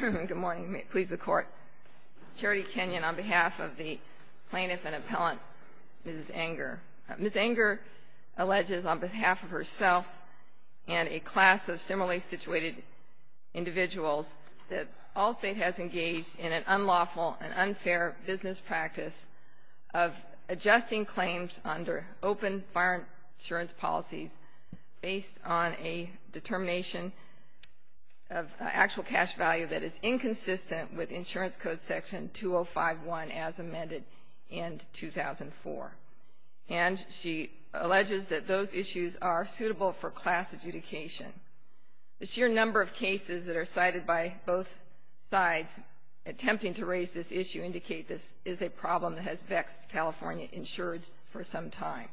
Good morning. Please, the Court. Charity Kenyon on behalf of the plaintiff and appellant, Mrs. Enger. Ms. Enger alleges on behalf of herself and a class of similarly situated individuals that Allstate has engaged in an unlawful and unfair business practice of adjusting claims under open fire insurance policies based on a determination of actual cash value that is inconsistent with Insurance Code Section 2051 as amended in 2004. And she alleges that those issues are suitable for class adjudication. The sheer number of cases that are cited by both sides attempting to raise this issue indicate this is a problem that has vexed California insurers for some time.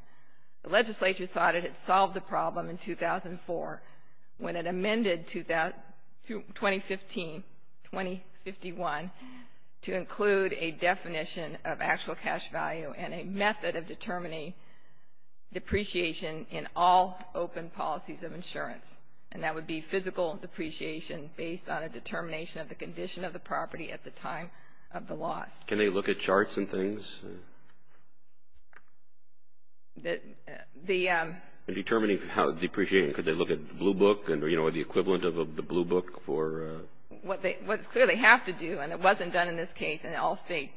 The legislature thought it had solved the problem in 2004 when it amended 2015-2051 to include a definition of actual cash value and a method of determining depreciation in all open policies of insurance. And that would be physical depreciation based on a determination of the condition of the property at the time of the loss. Can they look at charts and things? In determining how depreciating, could they look at the blue book or the equivalent of the blue book for? What they clearly have to do, and it wasn't done in this case and Allstate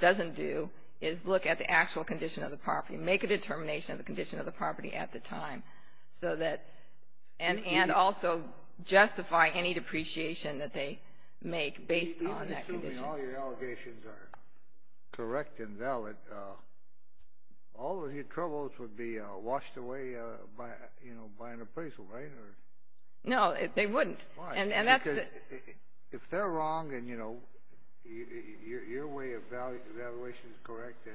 doesn't do, is look at the actual condition of the property and make a determination of the condition of the property at the time Assuming all your allegations are correct and valid, all of your troubles would be washed away by an appraisal, right? No, they wouldn't. If they're wrong and your way of evaluation is correct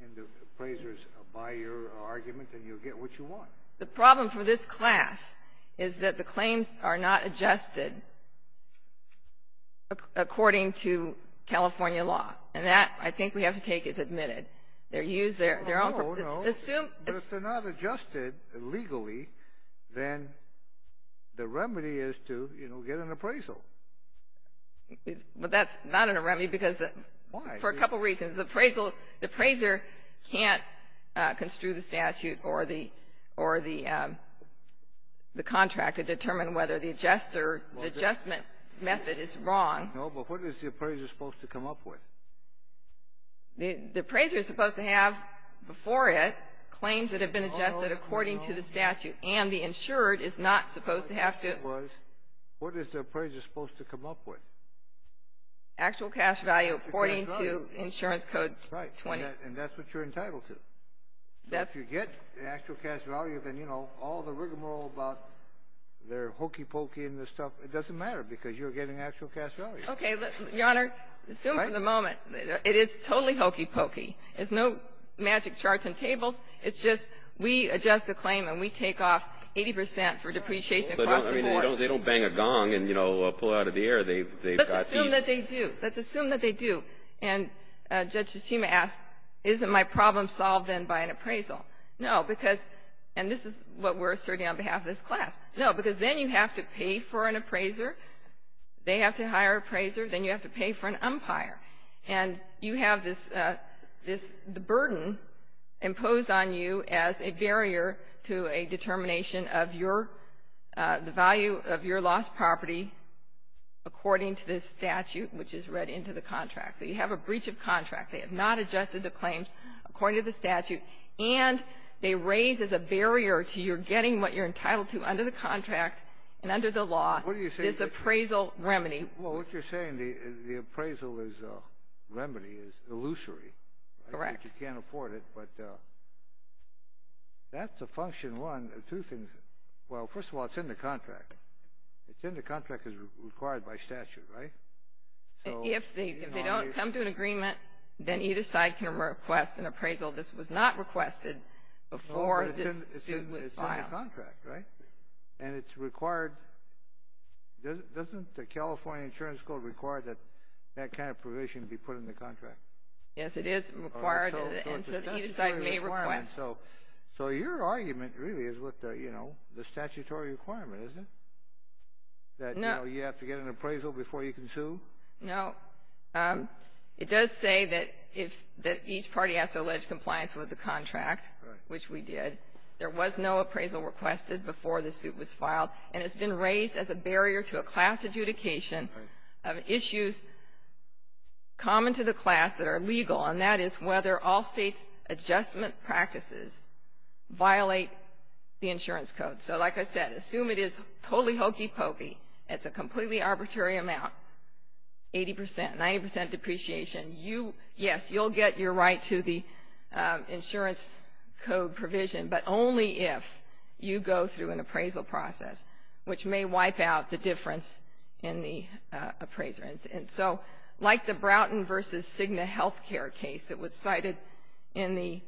and the appraisers buy your argument, then you'll get what you want. The problem for this class is that the claims are not adjusted according to California law. And that, I think we have to take as admitted. They're used there. If they're not adjusted legally, then the remedy is to get an appraisal. But that's not a remedy because for a couple reasons. The appraiser can't construe the statute or the contract to determine whether the adjustment method is wrong. No, but what is the appraiser supposed to come up with? The appraiser is supposed to have, before it, claims that have been adjusted according to the statute, and the insured is not supposed to have to. What is the appraiser supposed to come up with? Actual cash value according to Insurance Code 20. Right, and that's what you're entitled to. If you get the actual cash value, then, you know, all the rigmarole about their hokey pokey and this stuff, it doesn't matter because you're getting actual cash value. Okay, Your Honor, assume for the moment. It is totally hokey pokey. There's no magic charts and tables. It's just we adjust the claim and we take off 80 percent for depreciation across the board. I mean, they don't bang a gong and, you know, pull it out of the air. They've got fees. Let's assume that they do. Let's assume that they do. And Judge Tsutsima asked, isn't my problem solved then by an appraisal? No, because, and this is what we're asserting on behalf of this class. No, because then you have to pay for an appraiser. They have to hire an appraiser. Then you have to pay for an umpire. And you have this burden imposed on you as a barrier to a determination of your value of your lost property according to this statute, which is read into the contract. So you have a breach of contract. They have not adjusted the claims according to the statute, and they raise as a barrier to your getting what you're entitled to under the contract and under the law, this appraisal remedy. Well, what you're saying, the appraisal is a remedy, is illusory. Correct. You can't afford it, but that's a function. And one of two things, well, first of all, it's in the contract. It's in the contract as required by statute, right? If they don't come to an agreement, then either side can request an appraisal. This was not requested before this suit was filed. It's in the contract, right? And it's required. Doesn't the California Insurance Code require that that kind of provision be put in the contract? Yes, it is required, and so either side may request. So your argument really is with the statutory requirement, isn't it, that you have to get an appraisal before you can sue? No. It does say that each party has to allege compliance with the contract, which we did. There was no appraisal requested before the suit was filed, and it's been raised as a barrier to a class adjudication of issues common to the class that are legal, and that is whether all states' adjustment practices violate the insurance code. So, like I said, assume it is totally hokey pokey. It's a completely arbitrary amount, 80 percent, 90 percent depreciation. Yes, you'll get your right to the insurance code provision, but only if you go through an appraisal process, which may wipe out the difference in the appraisal. And so, like the Broughton v. Cigna health care case that was cited in the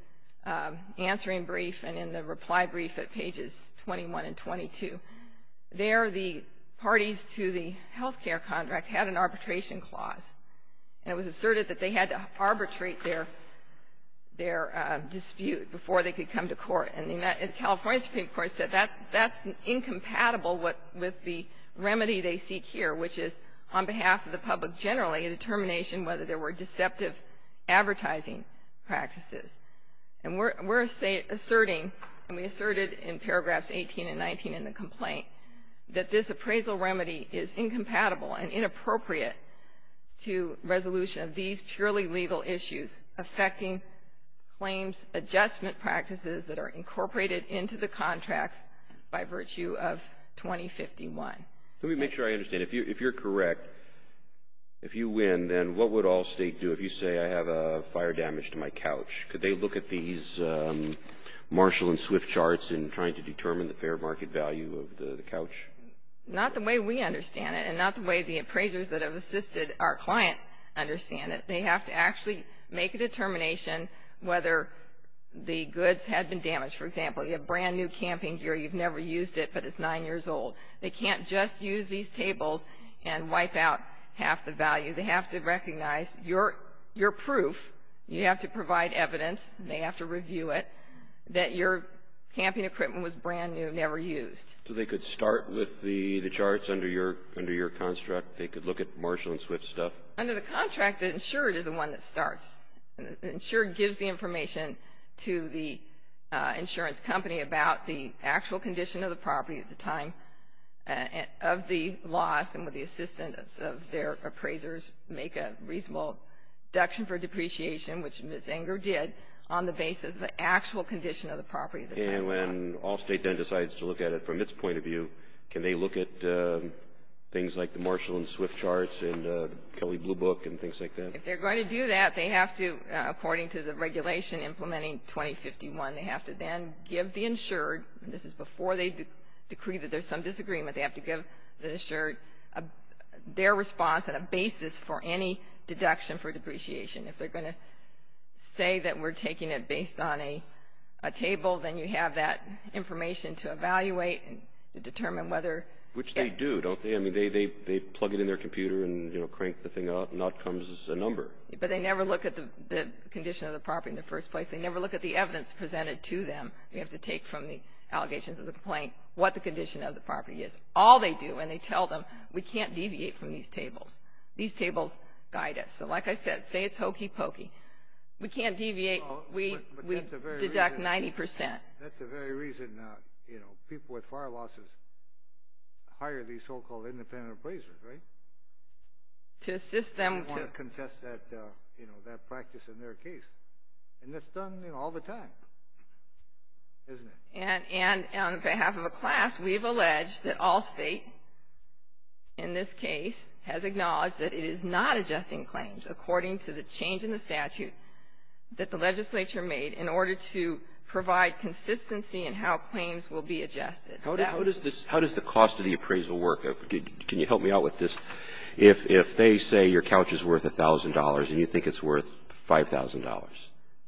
answering brief and in the reply brief at pages 21 and 22, there the parties to the health care contract had an arbitration clause, and it was asserted that they had to arbitrate their dispute before they could come to court. And the California Supreme Court said that's incompatible with the remedy they seek here, which is on behalf of the public generally a determination whether there were deceptive advertising practices. And we're asserting, and we asserted in paragraphs 18 and 19 in the complaint, that this appraisal remedy is incompatible and inappropriate to resolution of these purely legal issues affecting claims adjustment practices that are incorporated into the contracts by virtue of 2051. Let me make sure I understand. If you're correct, if you win, then what would Allstate do if you say I have fire damage to my couch? Could they look at these Marshall and Swift charts in trying to determine the fair market value of the couch? Not the way we understand it, and not the way the appraisers that have assisted our client understand it. They have to actually make a determination whether the goods had been damaged. For example, you have brand-new camping gear. You've never used it, but it's nine years old. They can't just use these tables and wipe out half the value. They have to recognize your proof. You have to provide evidence. They have to review it that your camping equipment was brand-new, never used. So they could start with the charts under your construct? They could look at Marshall and Swift stuff? Under the contract, the insured is the one that starts. The insured gives the information to the insurance company about the actual condition of the property at the time of the loss, and would the assistance of their appraisers make a reasonable deduction for depreciation, which Ms. Enger did, on the basis of the actual condition of the property at the time of the loss. And when Allstate then decides to look at it from its point of view, can they look at things like the Marshall and Swift charts and Kelly Blue Book and things like that? If they're going to do that, they have to, according to the regulation implementing 2051, they have to then give the insured, and this is before they decree that there's some disagreement, they have to give the insured their response and a basis for any deduction for depreciation. If they're going to say that we're taking it based on a table, then you have that information to evaluate and to determine whether. Which they do, don't they? They plug it in their computer and crank the thing out, and out comes a number. But they never look at the condition of the property in the first place. They never look at the evidence presented to them. They have to take from the allegations of the complaint what the condition of the property is. All they do, and they tell them, we can't deviate from these tables. These tables guide us. So like I said, say it's hokey pokey. We can't deviate. We deduct 90%. That's the very reason people with fire losses hire these so-called independent appraisers, right? To assist them. They want to contest that practice in their case. And that's done all the time, isn't it? And on behalf of a class, we've alleged that all state, in this case, has acknowledged that it is not adjusting claims according to the change in the statute that the legislature made in order to provide consistency in how claims will be adjusted. How does the cost of the appraisal work? Can you help me out with this? If they say your couch is worth $1,000 and you think it's worth $5,000 and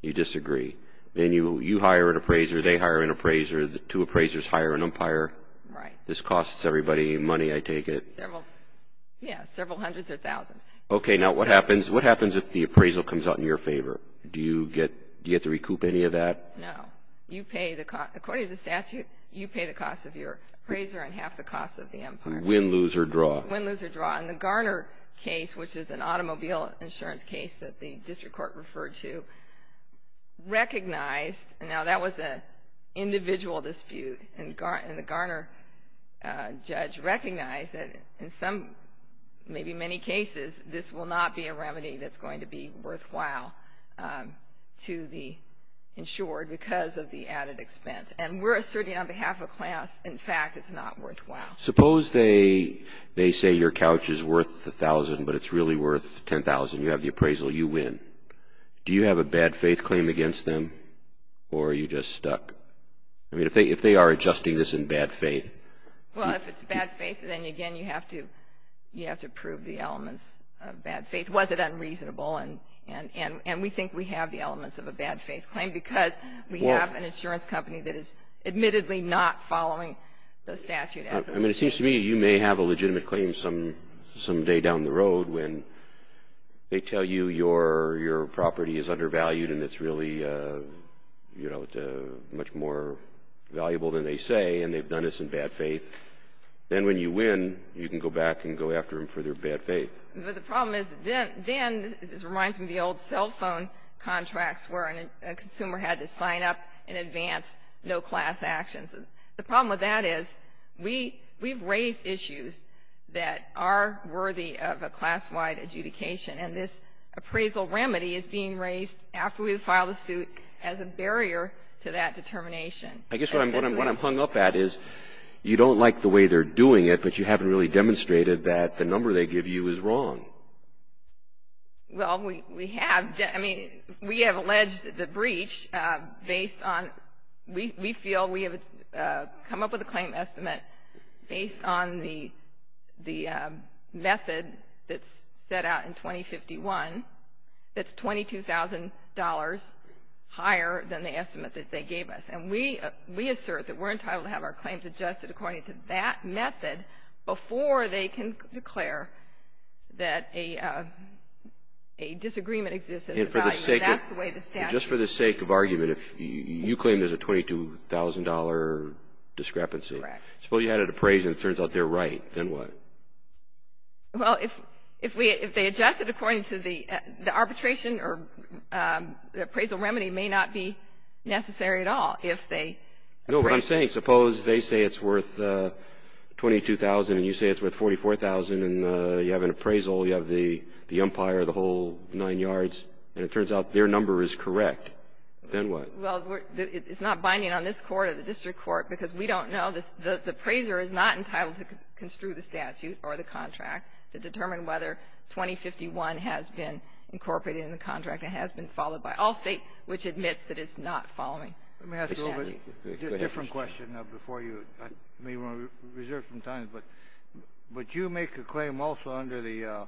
you disagree, then you hire an appraiser, they hire an appraiser, the two appraisers hire an umpire. Right. This costs everybody money, I take it. Yeah, several hundreds of thousands. Okay, now what happens if the appraisal comes out in your favor? Do you get to recoup any of that? No. According to the statute, you pay the cost of your appraiser and half the cost of the umpire. Win, lose, or draw. Win, lose, or draw. In the Garner case, which is an automobile insurance case that the district court referred to, recognized, now that was an individual dispute, and the Garner judge recognized that in some, maybe many cases, this will not be a remedy that's going to be worthwhile to the insured because of the added expense. And we're asserting on behalf of class, in fact, it's not worthwhile. Suppose they say your couch is worth $1,000 but it's really worth $10,000, you have the appraisal, you win. Do you have a bad faith claim against them or are you just stuck? I mean, if they are adjusting this in bad faith. Well, if it's bad faith, then, again, you have to prove the elements of bad faith. Was it unreasonable? And we think we have the elements of a bad faith claim because we have an insurance company that is admittedly not following the statute. I mean, it seems to me you may have a legitimate claim someday down the road when they tell you your property is undervalued and it's really, you know, much more valuable than they say and they've done this in bad faith. Then when you win, you can go back and go after them for their bad faith. But the problem is then, this reminds me of the old cell phone contracts where a consumer had to sign up in advance, no class actions. The problem with that is we've raised issues that are worthy of a class-wide adjudication and this appraisal remedy is being raised after we file the suit as a barrier to that determination. I guess what I'm hung up at is you don't like the way they're doing it but you haven't really demonstrated that the number they give you is wrong. Well, we have. I mean, we have alleged the breach based on, we feel we have come up with a claim estimate based on the method that's set out in 2051 that's $22,000 higher than the estimate that they gave us. And we assert that we're entitled to have our claims adjusted according to that method before they can declare that a disagreement exists in the value. That's the way the statute is. Just for the sake of argument, if you claim there's a $22,000 discrepancy. Correct. Suppose you had it appraised and it turns out they're right, then what? Well, if they adjust it according to the arbitration or the appraisal remedy may not be necessary at all if they appraise it. Suppose they say it's worth $22,000 and you say it's worth $44,000 and you have an appraisal, you have the umpire, the whole nine yards, and it turns out their number is correct, then what? Well, it's not binding on this Court or the district court because we don't know. The appraiser is not entitled to construe the statute or the contract to determine whether 2051 has been incorporated in the contract and has been followed by all State which admits that it's not following the statute. Let me ask a little bit of a different question before you. I may want to reserve some time, but you make a claim also under the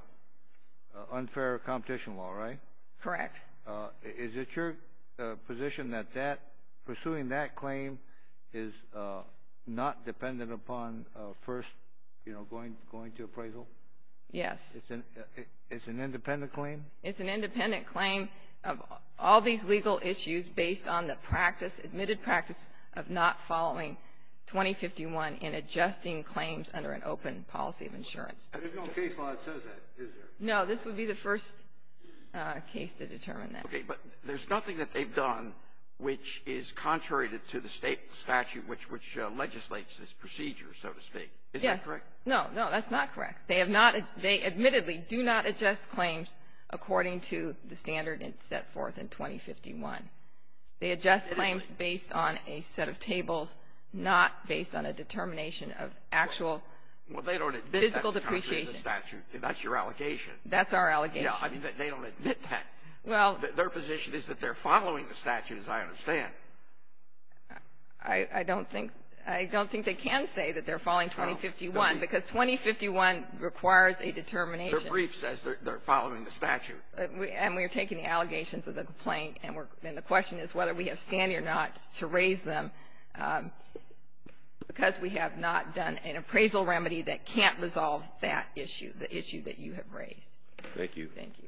unfair competition law, right? Correct. Is it your position that pursuing that claim is not dependent upon first going to appraisal? Yes. It's an independent claim? It's an independent claim of all these legal issues based on the practice, admitted practice of not following 2051 in adjusting claims under an open policy of insurance. There's no case law that says that, is there? No. This would be the first case to determine that. Okay. But there's nothing that they've done which is contrary to the State statute which legislates this procedure, so to speak. Yes. Is that correct? No. No. That's not correct. They have not — they admittedly do not adjust claims according to the standard it's set forth in 2051. They adjust claims based on a set of tables, not based on a determination of actual physical depreciation. Well, they don't admit that's contrary to the statute. That's your allegation. That's our allegation. Yeah. I mean, they don't admit that. Well — Their position is that they're following the statute, as I understand. I don't think — I don't think they can say that they're following 2051, because 2051 requires a determination. Their brief says they're following the statute. And we are taking the allegations of the complaint, and the question is whether we have standing or not to raise them, because we have not done an appraisal remedy that can't resolve that issue, the issue that you have raised. Thank you. Thank you.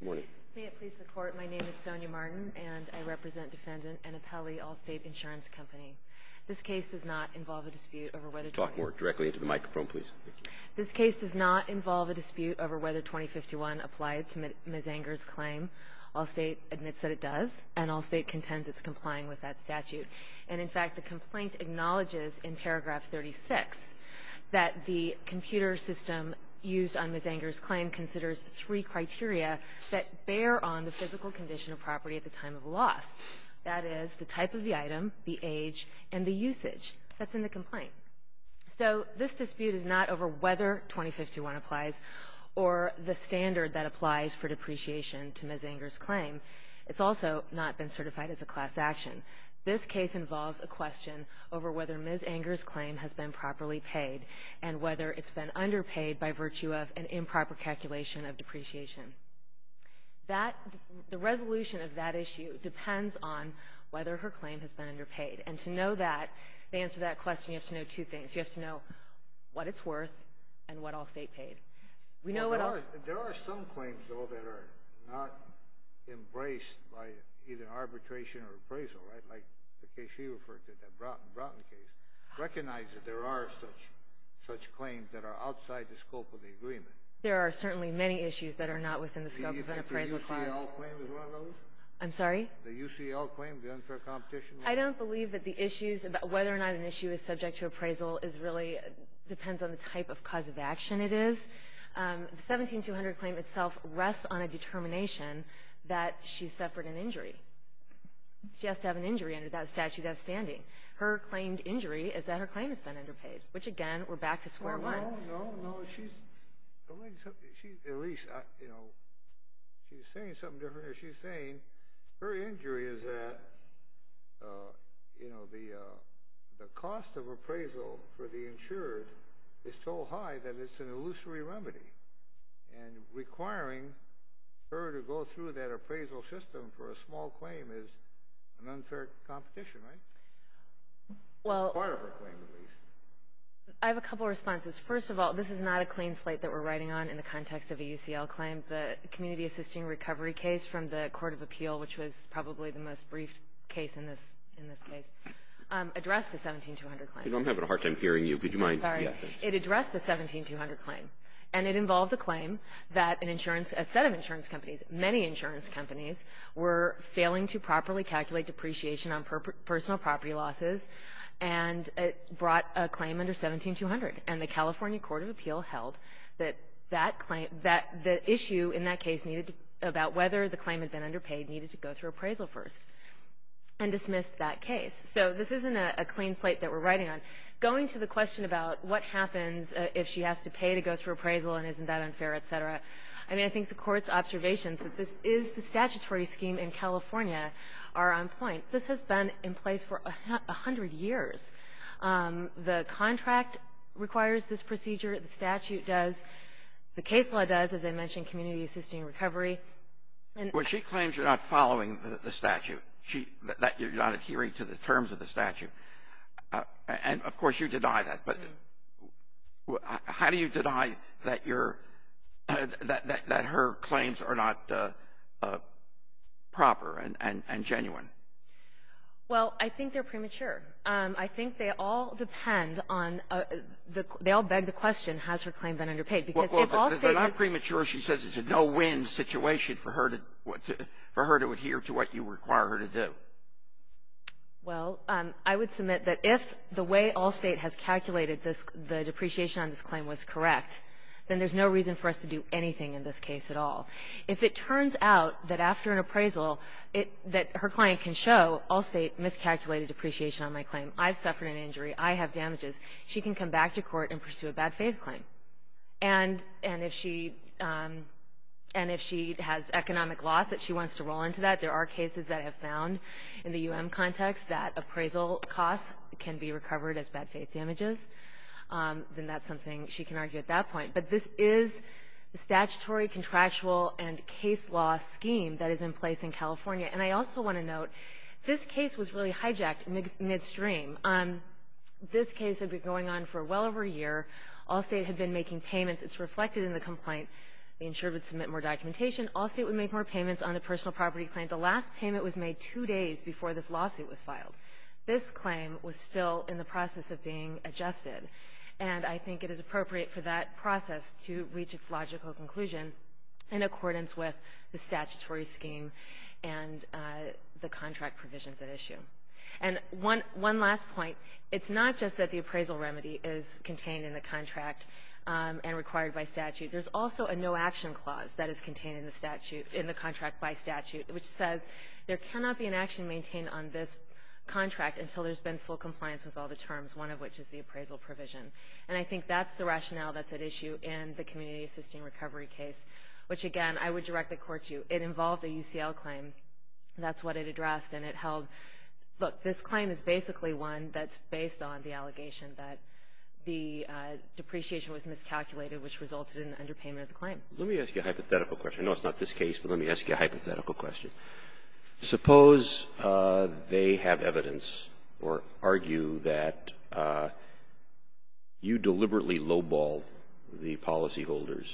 Good morning. Good morning. May it please the Court, my name is Sonia Martin, and I represent Defendant Annapelli Allstate Insurance Company. This case does not involve a dispute over whether — Talk more directly into the microphone, please. Thank you. This case does not involve a dispute over whether 2051 applied to Ms. Anger's claim. Allstate admits that it does, and Allstate contends it's complying with that statute. And, in fact, the complaint acknowledges that it does, in paragraph 36, that the computer system used on Ms. Anger's claim considers three criteria that bear on the physical condition of property at the time of loss. That is, the type of the item, the age, and the usage that's in the complaint. So this dispute is not over whether 2051 applies or the standard that applies for depreciation to Ms. Anger's claim. It's also not been certified as a class action. This case involves a question over whether Ms. Anger's claim has been properly paid and whether it's been underpaid by virtue of an improper calculation of depreciation. The resolution of that issue depends on whether her claim has been underpaid. And to know that, to answer that question, you have to know two things. You have to know what it's worth and what Allstate paid. There are some claims, though, that are not embraced by either arbitration or appraisal, like the case you referred to, the Broughton case, recognize that there are such claims that are outside the scope of the agreement. There are certainly many issues that are not within the scope of an appraisal. Do you think the UCL claim is one of those? I'm sorry? The UCL claim, the unfair competition? I don't believe that the issues about whether or not an issue is subject to appraisal really depends on the type of cause of action it is. The 17200 claim itself rests on a determination that she suffered an injury. She has to have an injury under that statute of standing. Her claimed injury is that her claim has been underpaid, which, again, we're back to square one. No, no, no. She's saying something different here. She's saying her injury is that the cost of appraisal for the insured is so high that it's an illusory remedy, and requiring her to go through that appraisal system for a small claim is an unfair competition, right? It's part of her claim, at least. I have a couple responses. First of all, this is not a clean slate that we're writing on in the context of a UCL claim. The community assisting recovery case from the Court of Appeal, which was probably the most brief case in this case, addressed a 17200 claim. I'm having a hard time hearing you. Could you mind? I'm sorry. It addressed a 17200 claim, and it involved a claim that a set of insurance companies, many insurance companies, were failing to properly calculate depreciation on personal property losses and brought a claim under 17200. And the California Court of Appeal held that that claim, that the issue in that case about whether the claim had been underpaid needed to go through appraisal first and dismissed that case. So this isn't a clean slate that we're writing on. Going to the question about what happens if she has to pay to go through appraisal and isn't that unfair, et cetera, I mean, I think the Court's observations that this is the statutory scheme in California are on point. This has been in place for 100 years. The contract requires this procedure. The statute does. The case law does, as I mentioned, community assisting recovery. Well, she claims you're not following the statute, that you're not adhering to the terms of the statute. And, of course, you deny that. But how do you deny that you're — that her claims are not proper and genuine? Well, I think they're premature. I think they all depend on — they all beg the question, has her claim been underpaid? Because if Allstate is — Well, if they're not premature, she says it's a no-win situation for her to — for her to adhere to what you require her to do. Well, I would submit that if the way Allstate has calculated this — the depreciation on this claim was correct, then there's no reason for us to do anything in this case at all. If it turns out that after an appraisal, it — that her client can show Allstate miscalculated depreciation on my claim, I suffered an injury, I have damages, she can come back to court and pursue a bad-faith claim. And if she — and if she has economic loss that she wants to roll into that, there are cases that have found in the U.M. context that appraisal costs can be recovered as bad-faith damages, then that's something she can argue at that point. But this is the statutory contractual and case law scheme that is in place in California. And I also want to note, this case was really hijacked midstream. This case had been going on for well over a year. Allstate had been making payments. It's reflected in the complaint. The insurer would submit more documentation. Allstate would make more payments on the personal property claim. The last payment was made two days before this lawsuit was filed. This claim was still in the process of being adjusted. And I think it is appropriate for that process to reach its logical conclusion in accordance with the statutory scheme and the contract provisions at issue. And one last point. It's not just that the appraisal remedy is contained in the contract and required by statute. There's also a no-action clause that is contained in the contract by statute, which says there cannot be an action maintained on this contract until there's been full compliance with all the terms, one of which is the appraisal provision. And I think that's the rationale that's at issue in the community assisting recovery case, which, again, I would directly court you. It involved a UCL claim. That's what it addressed. And it held, look, this claim is basically one that's based on the allegation that the depreciation was miscalculated, which resulted in underpayment of the claim. Roberts. Let me ask you a hypothetical question. I know it's not this case, but let me ask you a hypothetical question. Suppose they have evidence or argue that you deliberately lowball the policyholders.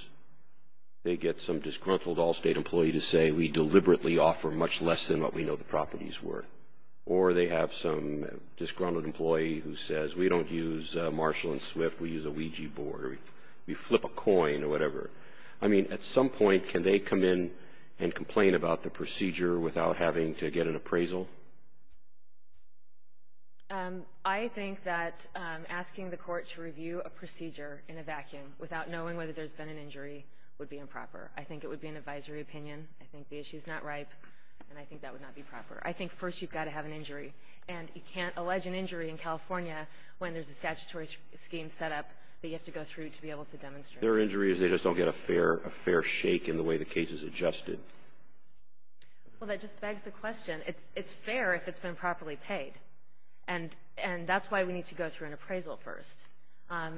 They get some disgruntled all-State employee to say we deliberately offer much less than what we know the properties were, or they have some disgruntled employee who says we don't use Marshall and Swift, we use a Ouija board, or we flip a coin or whatever. I mean, at some point, can they come in and complain about the procedure without having to get an appraisal? I think that asking the court to review a procedure in a vacuum without knowing whether there's been an injury would be improper. I think it would be an advisory opinion. I think the issue is not ripe, and I think that would not be proper. I think first you've got to have an injury. And you can't allege an injury in California when there's a statutory scheme set up that you have to go through to be able to demonstrate. If there are injuries, they just don't get a fair shake in the way the case is adjusted. Well, that just begs the question. It's fair if it's been properly paid. And that's why we need to go through an appraisal first.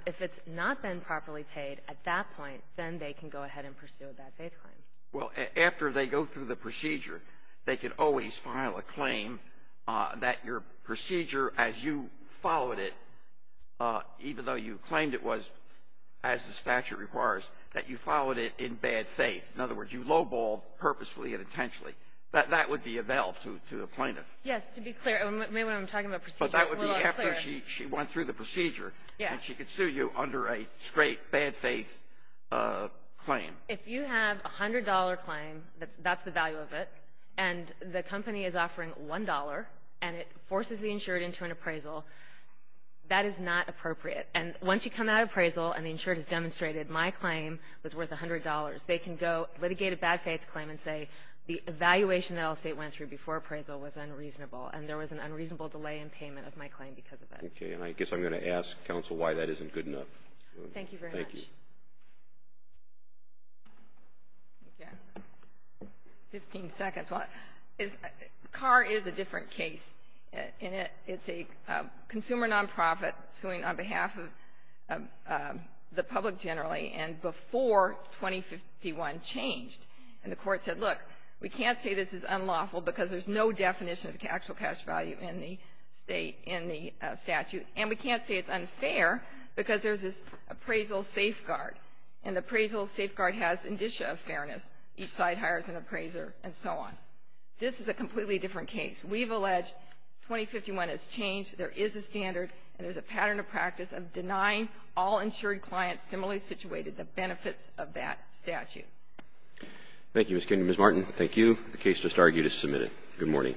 If it's not been properly paid at that point, then they can go ahead and pursue a bad-faith claim. Well, after they go through the procedure, they could always file a claim that your procedure, as you followed it, even though you claimed it was as the statute requires, that you followed it in bad faith. In other words, you low-balled purposefully and intentionally. That would be a bail to the plaintiff. Yes, to be clear. Maybe when I'm talking about procedure, I'm a little unclear. But that would be after she went through the procedure. Yes. And she could sue you under a straight bad-faith claim. If you have a $100 claim, that's the value of it, and the company is offering $1, and it forces the insured into an appraisal, that is not appropriate. And once you come out of appraisal and the insured has demonstrated my claim was worth $100, they can go litigate a bad-faith claim and say the evaluation that Allstate went through before appraisal was unreasonable and there was an unreasonable delay in payment of my claim because of it. Okay. And I guess I'm going to ask counsel why that isn't good enough. Thank you very much. Thank you. Thank you. Fifteen seconds. CAR is a different case. It's a consumer nonprofit suing on behalf of the public generally and before 2051 changed. And the court said, look, we can't say this is unlawful because there's no definition of actual cash value in the statute. And we can't say it's unfair because there's this appraisal safeguard. And the appraisal safeguard has indicia of fairness. Each side hires an appraiser and so on. This is a completely different case. We've alleged 2051 has changed. There is a standard and there's a pattern of practice of denying all insured clients similarly situated the benefits of that statute. Thank you, Ms. Kennedy. Ms. Martin, thank you. The case just argued is submitted. Good morning.